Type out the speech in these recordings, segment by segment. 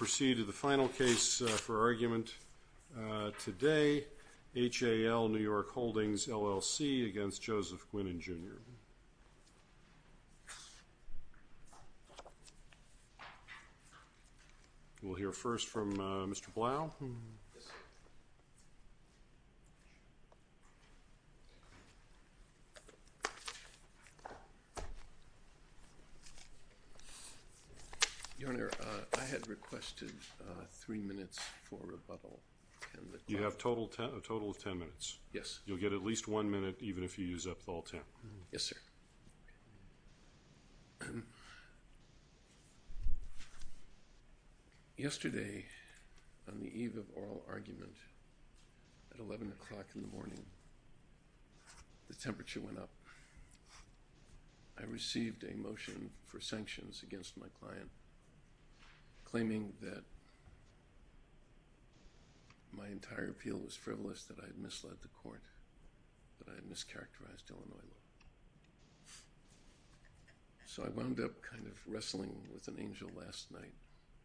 We'll hear first from Mr. Blau. Your Honor, I had requested that the plaintiff's attorney give me at least three minutes for rebuttal. You have a total of ten minutes. Yes. You'll get at least one minute even if you use up all ten. Yes, sir. Yesterday, on the eve of oral argument, at 11 o'clock in the morning, the temperature went up. I received a motion for sanctions against my client claiming that my entire appeal was frivolous, that I had misled the court, that I had mischaracterized Illinois law. So I wound up kind of wrestling with an angel last night,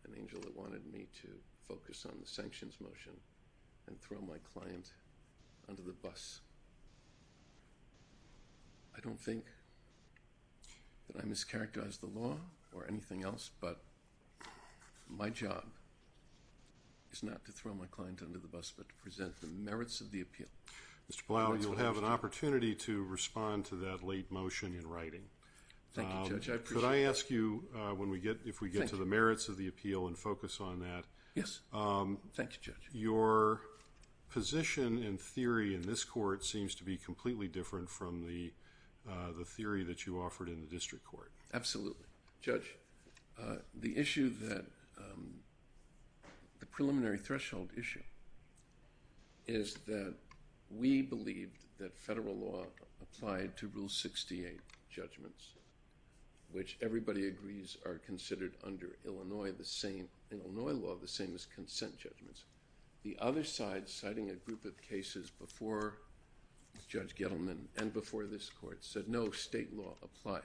an angel that wanted me to focus on the sanctions motion and throw my client under the bus. I don't think that I mischaracterized the law or anything else, but my job is not to throw my client under the bus but to present the merits of the appeal. Mr. Blau, you'll have an opportunity to respond to that late motion in writing. Thank you, Judge. I appreciate that. Could I ask you, if we get to the merits of the appeal and focus on that. Yes. Thank you, Judge. Your position and theory in this court seems to be completely different from the theory that you offered in the district court. Absolutely. Judge, the issue that, the preliminary threshold issue, is that we believe that federal law applied to Rule 68 judgments, which everybody agrees are considered under Illinois the same, in Illinois law, the same as consent judgments. The other side, citing a group of cases before Judge Gettleman and before this court, said no, state law applies.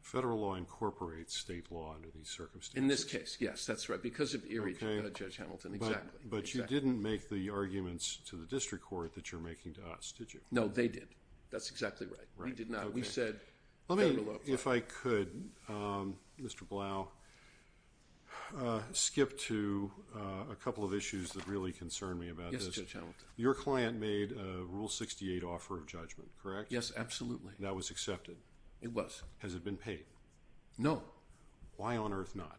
Federal law incorporates state law under these circumstances. In this case, yes, that's right, because of Erie, Judge Hamilton, exactly. But you didn't make the arguments to the district court that you're making to us, did you? No, they did. That's exactly right. We did not. We said federal law applied. If I could, Mr. Blau, skip to a couple of issues that really concern me about this. Yes, Judge Hamilton. Your client made a Rule 68 offer of judgment, correct? Yes, absolutely. And that was accepted? It was. Has it been paid? No. Why on earth not?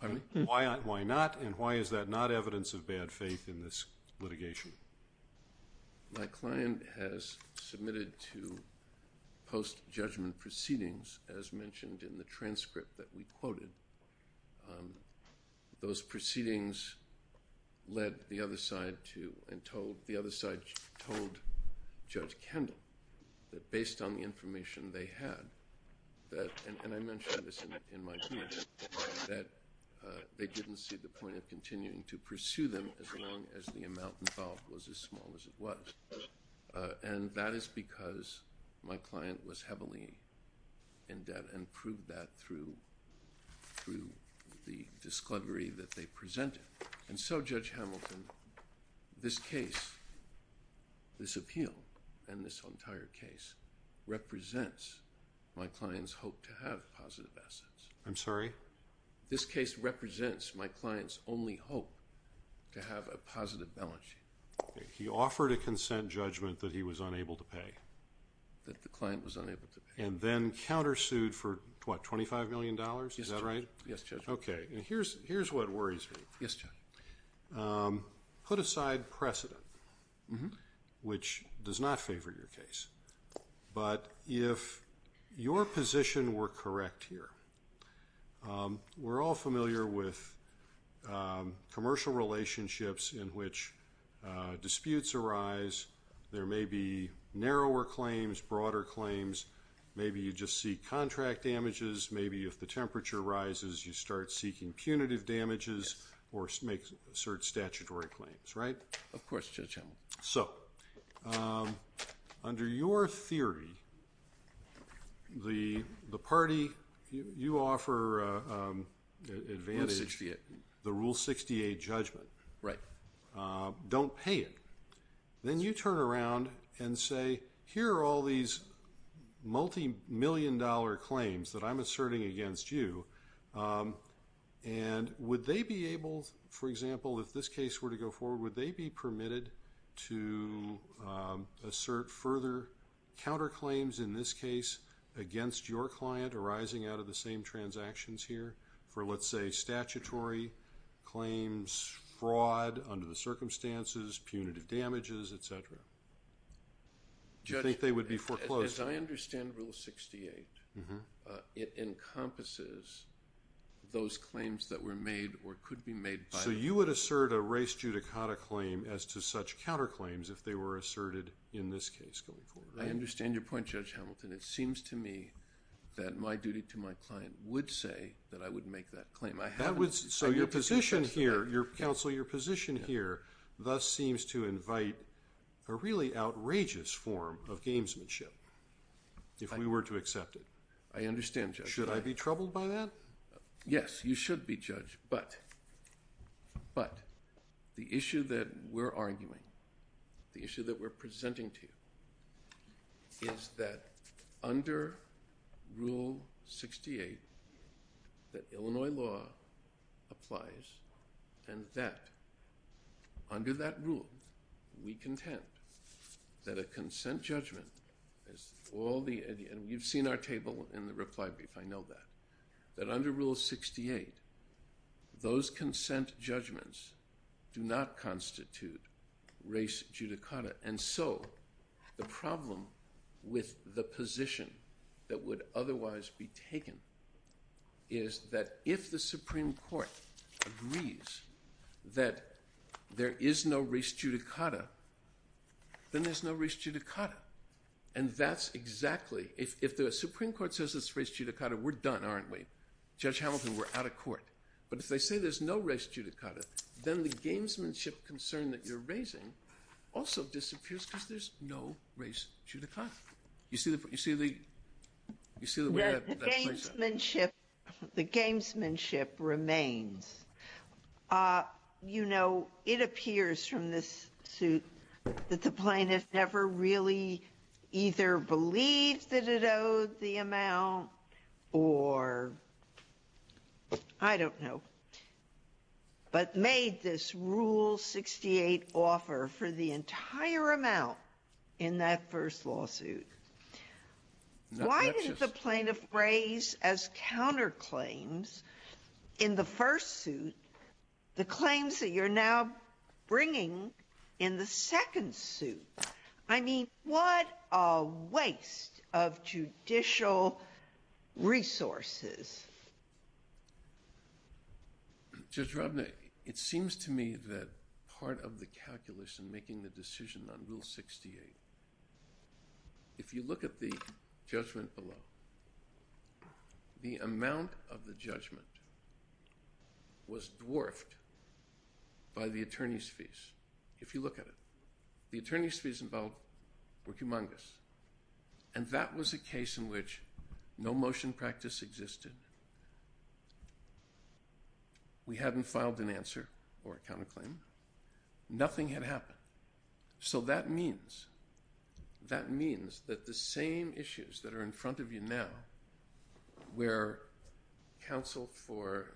Pardon me? Why not, and why is that not evidence of bad faith in this litigation? My client has submitted to post-judgment proceedings, as mentioned in the transcript that we quoted. Those proceedings led the other side to and told, Judge Kendall, that based on the information they had, and I mentioned this in my brief, that they didn't see the point of continuing to pursue them as long as the amount involved was as small as it was. And that is because my client was heavily in debt and proved that through the discovery that they presented. And so, Judge Hamilton, this case, this appeal, and this entire case represents my client's hope to have positive assets. I'm sorry? This case represents my client's only hope to have a positive balance sheet. He offered a consent judgment that he was unable to pay. That the client was unable to pay. And then countersued for, what, $25 million? Yes, Judge. Is that right? Yes, Judge. Okay. And here's what worries me. Yes, Judge. Put aside precedent, which does not favor your case, but if your position were correct here, we're all familiar with commercial relationships in which disputes arise. There may be narrower claims, broader claims. Maybe you just see contract damages. Maybe if the temperature rises, you start seeking punitive damages or assert statutory claims, right? Of course, Judge Hamilton. So, under your theory, the party you offer advantage. Rule 68. The Rule 68 judgment. Right. Don't pay it. Then you turn around and say, here are all these multimillion-dollar claims that I'm asserting against you. And would they be able, for example, if this case were to go forward, would they be permitted to assert further counterclaims, in this case, against your client arising out of the same transactions here for, let's say, As I understand Rule 68, it encompasses those claims that were made or could be made by them. So you would assert a race judicata claim as to such counterclaims if they were asserted in this case going forward, right? I understand your point, Judge Hamilton. It seems to me that my duty to my client would say that I would make that claim. So your position here, Counsel, your position here, thus seems to invite a really outrageous form of gamesmanship, if we were to accept it. I understand, Judge. Should I be troubled by that? Yes, you should be, Judge. But the issue that we're arguing, the issue that we're presenting to you, is that under Rule 68, that Illinois law applies, and that under that rule, we contend that a consent judgment is all the, and you've seen our table in the reply brief, I know that, that under Rule 68, those consent judgments do not constitute race judicata. And so the problem with the position that would otherwise be taken is that if the Supreme Court agrees that there is no race judicata, then there's no race judicata. And that's exactly, if the Supreme Court says it's race judicata, we're done, aren't we? Judge Hamilton, we're out of court. But if they say there's no race judicata, then the gamesmanship concern that you're raising also disappears because there's no race judicata. You see the way that plays out? The gamesmanship remains. You know, it appears from this suit that the plaintiff never really either believed that it owed the amount or, I don't know. But made this Rule 68 offer for the entire amount in that first lawsuit. Why did the plaintiff raise as counterclaims in the first suit the claims that you're now bringing in the second suit? I mean, what a waste of judicial resources. Judge Robnick, it seems to me that part of the calculus in making the decision on Rule 68, if you look at the judgment below, the amount of the judgment was dwarfed by the attorney's fees. If you look at it, the attorney's fees involved were humongous. And that was a case in which no motion practice existed. We hadn't filed an answer or a counterclaim. Nothing had happened. So that means that the same issues that are in front of you now where counsel for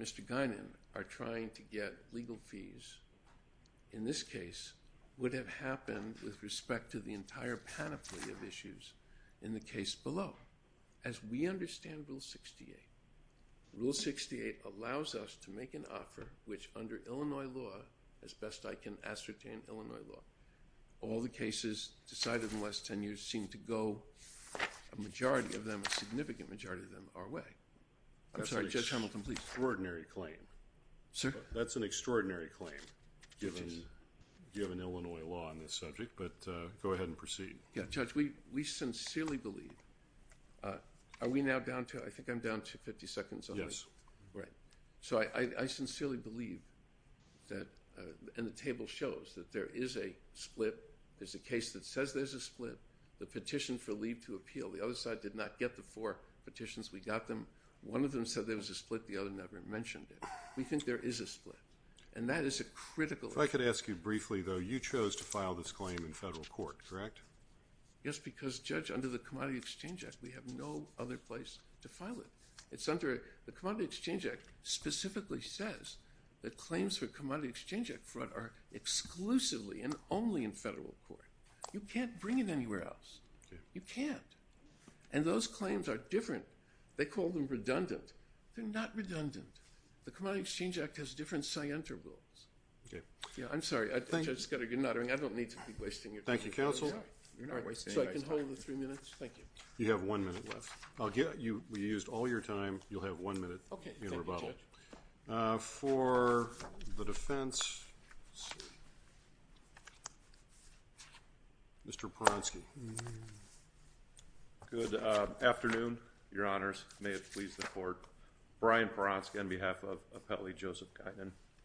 Mr. Guinan are trying to get legal fees, in this case, would have happened with respect to the entire panoply of issues in the case below. As we understand Rule 68, Rule 68 allows us to make an offer which under Illinois law, as best I can ascertain Illinois law, all the cases decided in the last ten years seem to go, a majority of them, a significant majority of them, are away. I'm sorry, Judge Hamilton, please. That's an extraordinary claim. Sir? That's an extraordinary claim given Illinois law on this subject, but go ahead and proceed. Judge, we sincerely believe, are we now down to, I think I'm down to 50 seconds on it. Yes. Right. So I sincerely believe that, and the table shows that there is a split. There's a case that says there's a split. The petition for leave to appeal. The other side did not get the four petitions. We got them. One of them said there was a split. The other never mentioned it. We think there is a split, and that is a critical issue. If I could ask you briefly, though, you chose to file this claim in federal court, correct? Yes, because, Judge, under the Commodity Exchange Act, we have no other place to file it. The Commodity Exchange Act specifically says that claims for commodity exchange fraud are exclusively and only in federal court. You can't bring it anywhere else. You can't. And those claims are different. They call them redundant. They're not redundant. The Commodity Exchange Act has different scientific rules. Okay. Yeah, I'm sorry. Judge Scudder, I don't need to be wasting your time. Thank you, Counsel. So I can hold the three minutes? Thank you. You used all your time. You'll have one minute in rebuttal. Okay. Thank you, Judge. For the defense, Mr. Paronsky. Good afternoon, Your Honors. May it please the Court. Brian Paronsky on behalf of Appellee Joseph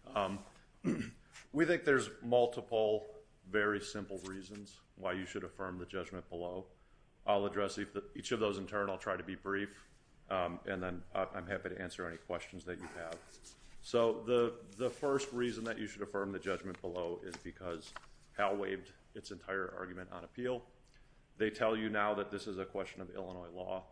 Guinan. We think there's multiple very simple reasons why you should affirm the judgment below. I'll address each of those in turn. I'll try to be brief, and then I'm happy to answer any questions that you have. So the first reason that you should affirm the judgment below is because Hal waived its entire argument on appeal. They tell you now that this is a question of Illinois law.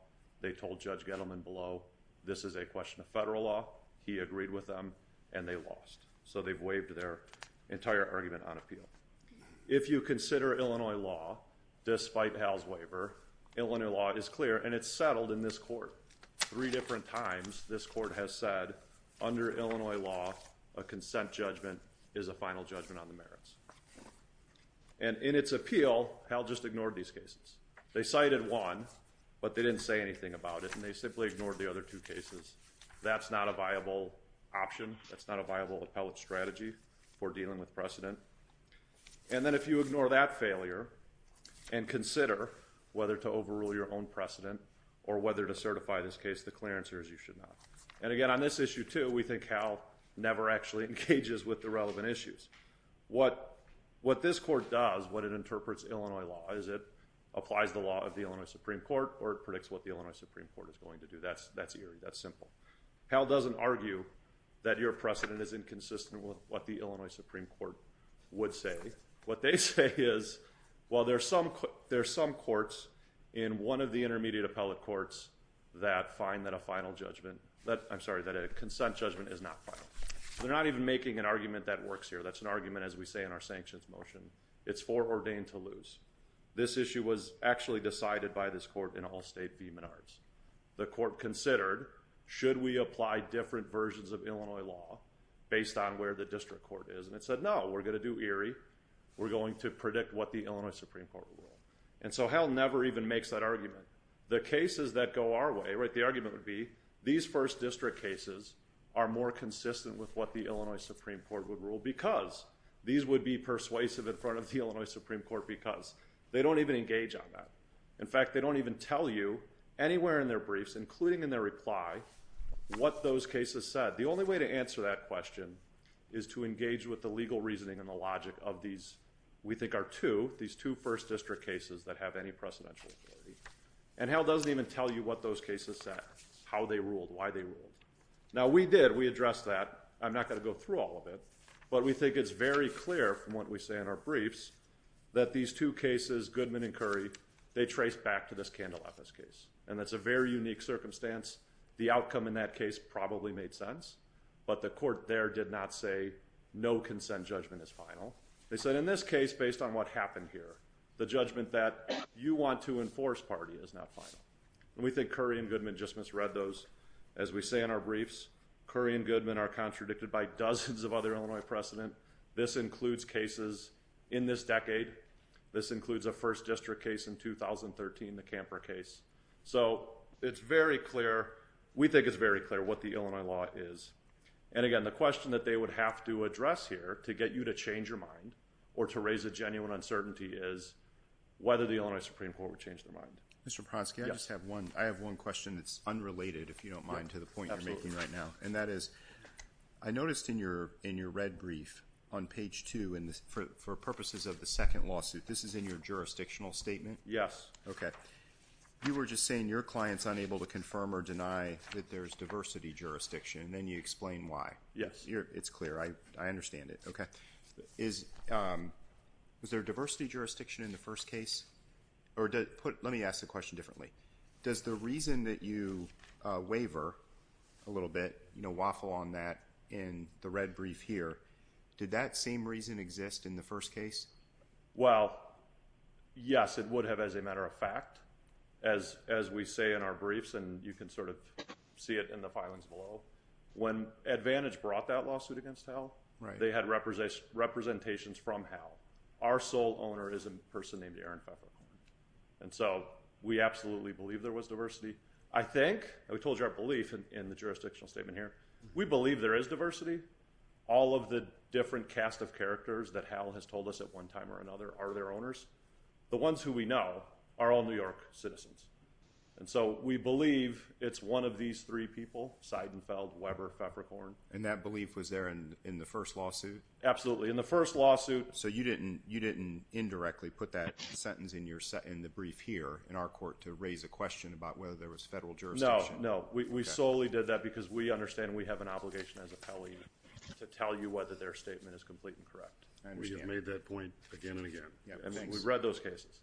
They told Judge Gettleman below, this is a question of federal law. He agreed with them, and they lost. So they've waived their entire argument on appeal. If you consider Illinois law, despite Hal's waiver, Illinois law is clear, and it's settled in this Court. Three different times this Court has said, under Illinois law, a consent judgment is a final judgment on the merits. And in its appeal, Hal just ignored these cases. They cited one, but they didn't say anything about it, and they simply ignored the other two cases. That's not a viable option. That's not a viable appellate strategy for dealing with precedent. And then if you ignore that failure and consider whether to overrule your own precedent or whether to certify this case, the clearance here is you should not. And, again, on this issue, too, we think Hal never actually engages with the relevant issues. What this Court does, what it interprets Illinois law, is it applies the law of the Illinois Supreme Court or it predicts what the Illinois Supreme Court is going to do. That's eerie. That's simple. Hal doesn't argue that your precedent is inconsistent with what the Illinois Supreme Court would say. What they say is, well, there's some courts in one of the intermediate appellate courts that find that a final judgment – I'm sorry, that a consent judgment is not final. They're not even making an argument that works here. That's an argument, as we say in our sanctions motion. It's for ordained to lose. This issue was actually decided by this Court in all state v. Menards. The Court considered, should we apply different versions of Illinois law based on where the district court is? And it said, no, we're going to do eerie. We're going to predict what the Illinois Supreme Court will rule. And so Hal never even makes that argument. The cases that go our way, the argument would be, these first district cases are more consistent with what the Illinois Supreme Court would rule because these would be persuasive in front of the Illinois Supreme Court because they don't even engage on that. In fact, they don't even tell you anywhere in their briefs, including in their reply, what those cases said. The only way to answer that question is to engage with the legal reasoning and the logic of these, we think are two, these two first district cases that have any precedential authority. And Hal doesn't even tell you what those cases said, how they ruled, why they ruled. Now, we did, we addressed that. I'm not going to go through all of it, but we think it's very clear from what we say in our briefs that these two cases, Goodman and Curry, they trace back to this Candelapis case. And that's a very unique circumstance. The outcome in that case probably made sense, but the court there did not say no consent judgment is final. They said in this case, based on what happened here, the judgment that you want to enforce party is not final. And we think Curry and Goodman just misread those. As we say in our briefs, Curry and Goodman are contradicted by dozens of other Illinois precedent. This includes cases in this decade. This includes a first district case in 2013, the Camper case. So it's very clear. We think it's very clear what the Illinois law is. And again, the question that they would have to address here to get you to change your mind or to raise a genuine uncertainty is whether the Illinois Supreme Court would change their mind. Mr. Pronsky, I just have one question that's unrelated, if you don't mind, to the point you're making right now. And that is, I noticed in your red brief on page 2, for purposes of the second lawsuit, this is in your jurisdictional statement? Yes. Okay. You were just saying your client's unable to confirm or deny that there's diversity jurisdiction, and then you explain why. Yes. It's clear. I understand it. Okay. Is there diversity jurisdiction in the first case? Or let me ask the question differently. Does the reason that you waver a little bit, you know, waffle on that in the red brief here, did that same reason exist in the first case? Well, yes, it would have, as a matter of fact. As we say in our briefs, and you can sort of see it in the filings below, when Advantage brought that lawsuit against HAL, they had representations from HAL. Our sole owner is a person named Aaron Feffer. And so we absolutely believe there was diversity. I think, and we told you our belief in the jurisdictional statement here, we believe there is diversity. All of the different cast of characters that HAL has told us at one time or another are their owners. The ones who we know are all New York citizens. And so we believe it's one of these three people, Seidenfeld, Weber, Feffercorn. And that belief was there in the first lawsuit? Absolutely. In the first lawsuit. So you didn't indirectly put that sentence in the brief here in our court to raise a question about whether there was federal jurisdiction? No, no. We solely did that because we understand we have an obligation as an appellee to tell you whether their statement is complete and correct. I understand. We have made that point again and again. We've read those cases.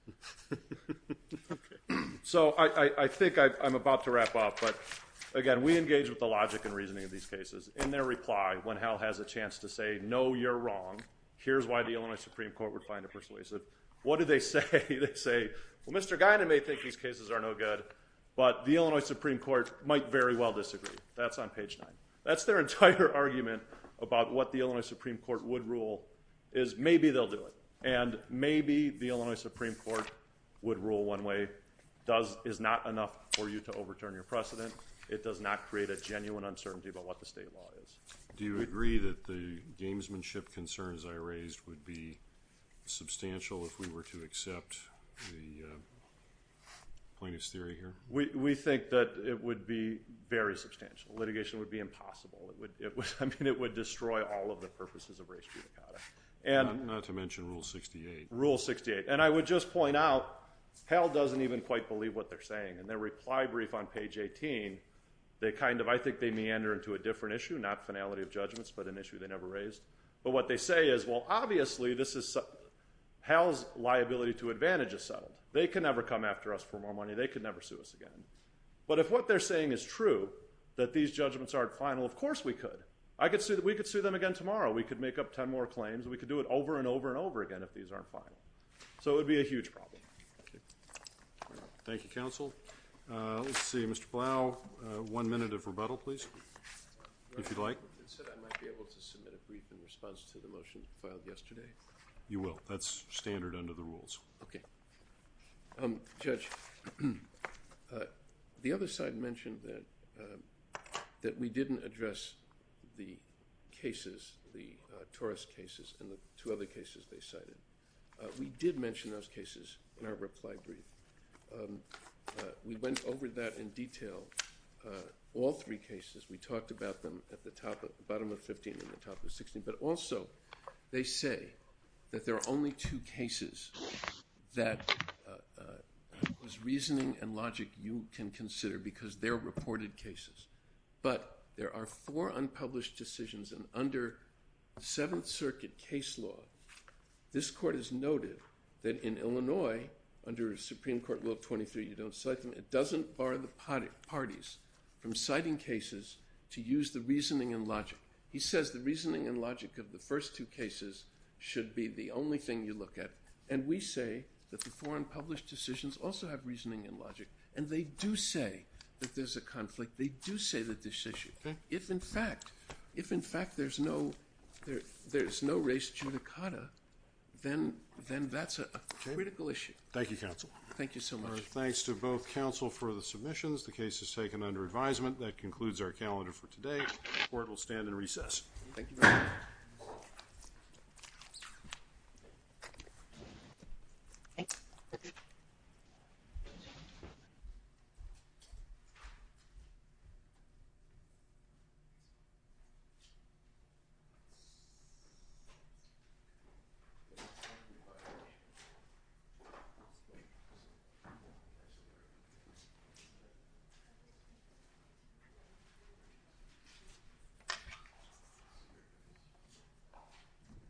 So I think I'm about to wrap up. But, again, we engage with the logic and reasoning of these cases. In their reply, when HAL has a chance to say, no, you're wrong, here's why the Illinois Supreme Court would find it persuasive, what do they say? They say, well, Mr. Guyton may think these cases are no good, but the Illinois Supreme Court might very well disagree. That's on page nine. That's their entire argument about what the Illinois Supreme Court would rule is maybe they'll do it. And maybe the Illinois Supreme Court would rule one way is not enough for you to overturn your precedent. It does not create a genuine uncertainty about what the state law is. Do you agree that the gamesmanship concerns I raised would be substantial if we were to accept the plaintiff's theory here? We think that it would be very substantial. Litigation would be impossible. I mean, it would destroy all of the purposes of race butchery. Not to mention Rule 68. Rule 68. And I would just point out HAL doesn't even quite believe what they're saying. In their reply brief on page 18, they kind of, I think, they meander into a different issue, not finality of judgments, but an issue they never raised. But what they say is, well, obviously, HAL's liability to advantage is settled. They can never come after us for more money. They can never sue us again. But if what they're saying is true, that these judgments aren't final, of course we could. We could sue them again tomorrow. We could make up ten more claims. We could do it over and over and over again if these aren't final. So it would be a huge problem. Thank you, counsel. Let's see. Mr. Blau, one minute of rebuttal, please, if you'd like. It said I might be able to submit a brief in response to the motion filed yesterday. You will. That's standard under the rules. Okay. Judge, the other side mentioned that we didn't address the cases, the Taurus cases, and the two other cases they cited. We did mention those cases in our reply brief. We went over that in detail, all three cases. We talked about them at the bottom of 15 and the top of 16. But also, they say that there are only two cases that there's reasoning and logic you can consider because they're reported cases. But there are four unpublished decisions. And under Seventh Circuit case law, this court has noted that in Illinois, under Supreme Court Rule 23, you don't cite them. It doesn't bar the parties from citing cases to use the reasoning and logic. He says the reasoning and logic of the first two cases should be the only thing you look at. And we say that the four unpublished decisions also have reasoning and logic. And they do say that there's a conflict. They do say that this issue. If, in fact, there's no race judicata, then that's a critical issue. Thank you, counsel. Thank you so much. Our thanks to both counsel for the submissions. The case is taken under advisement. That concludes our calendar for today. The court will stand in recess. Thank you. Thank you.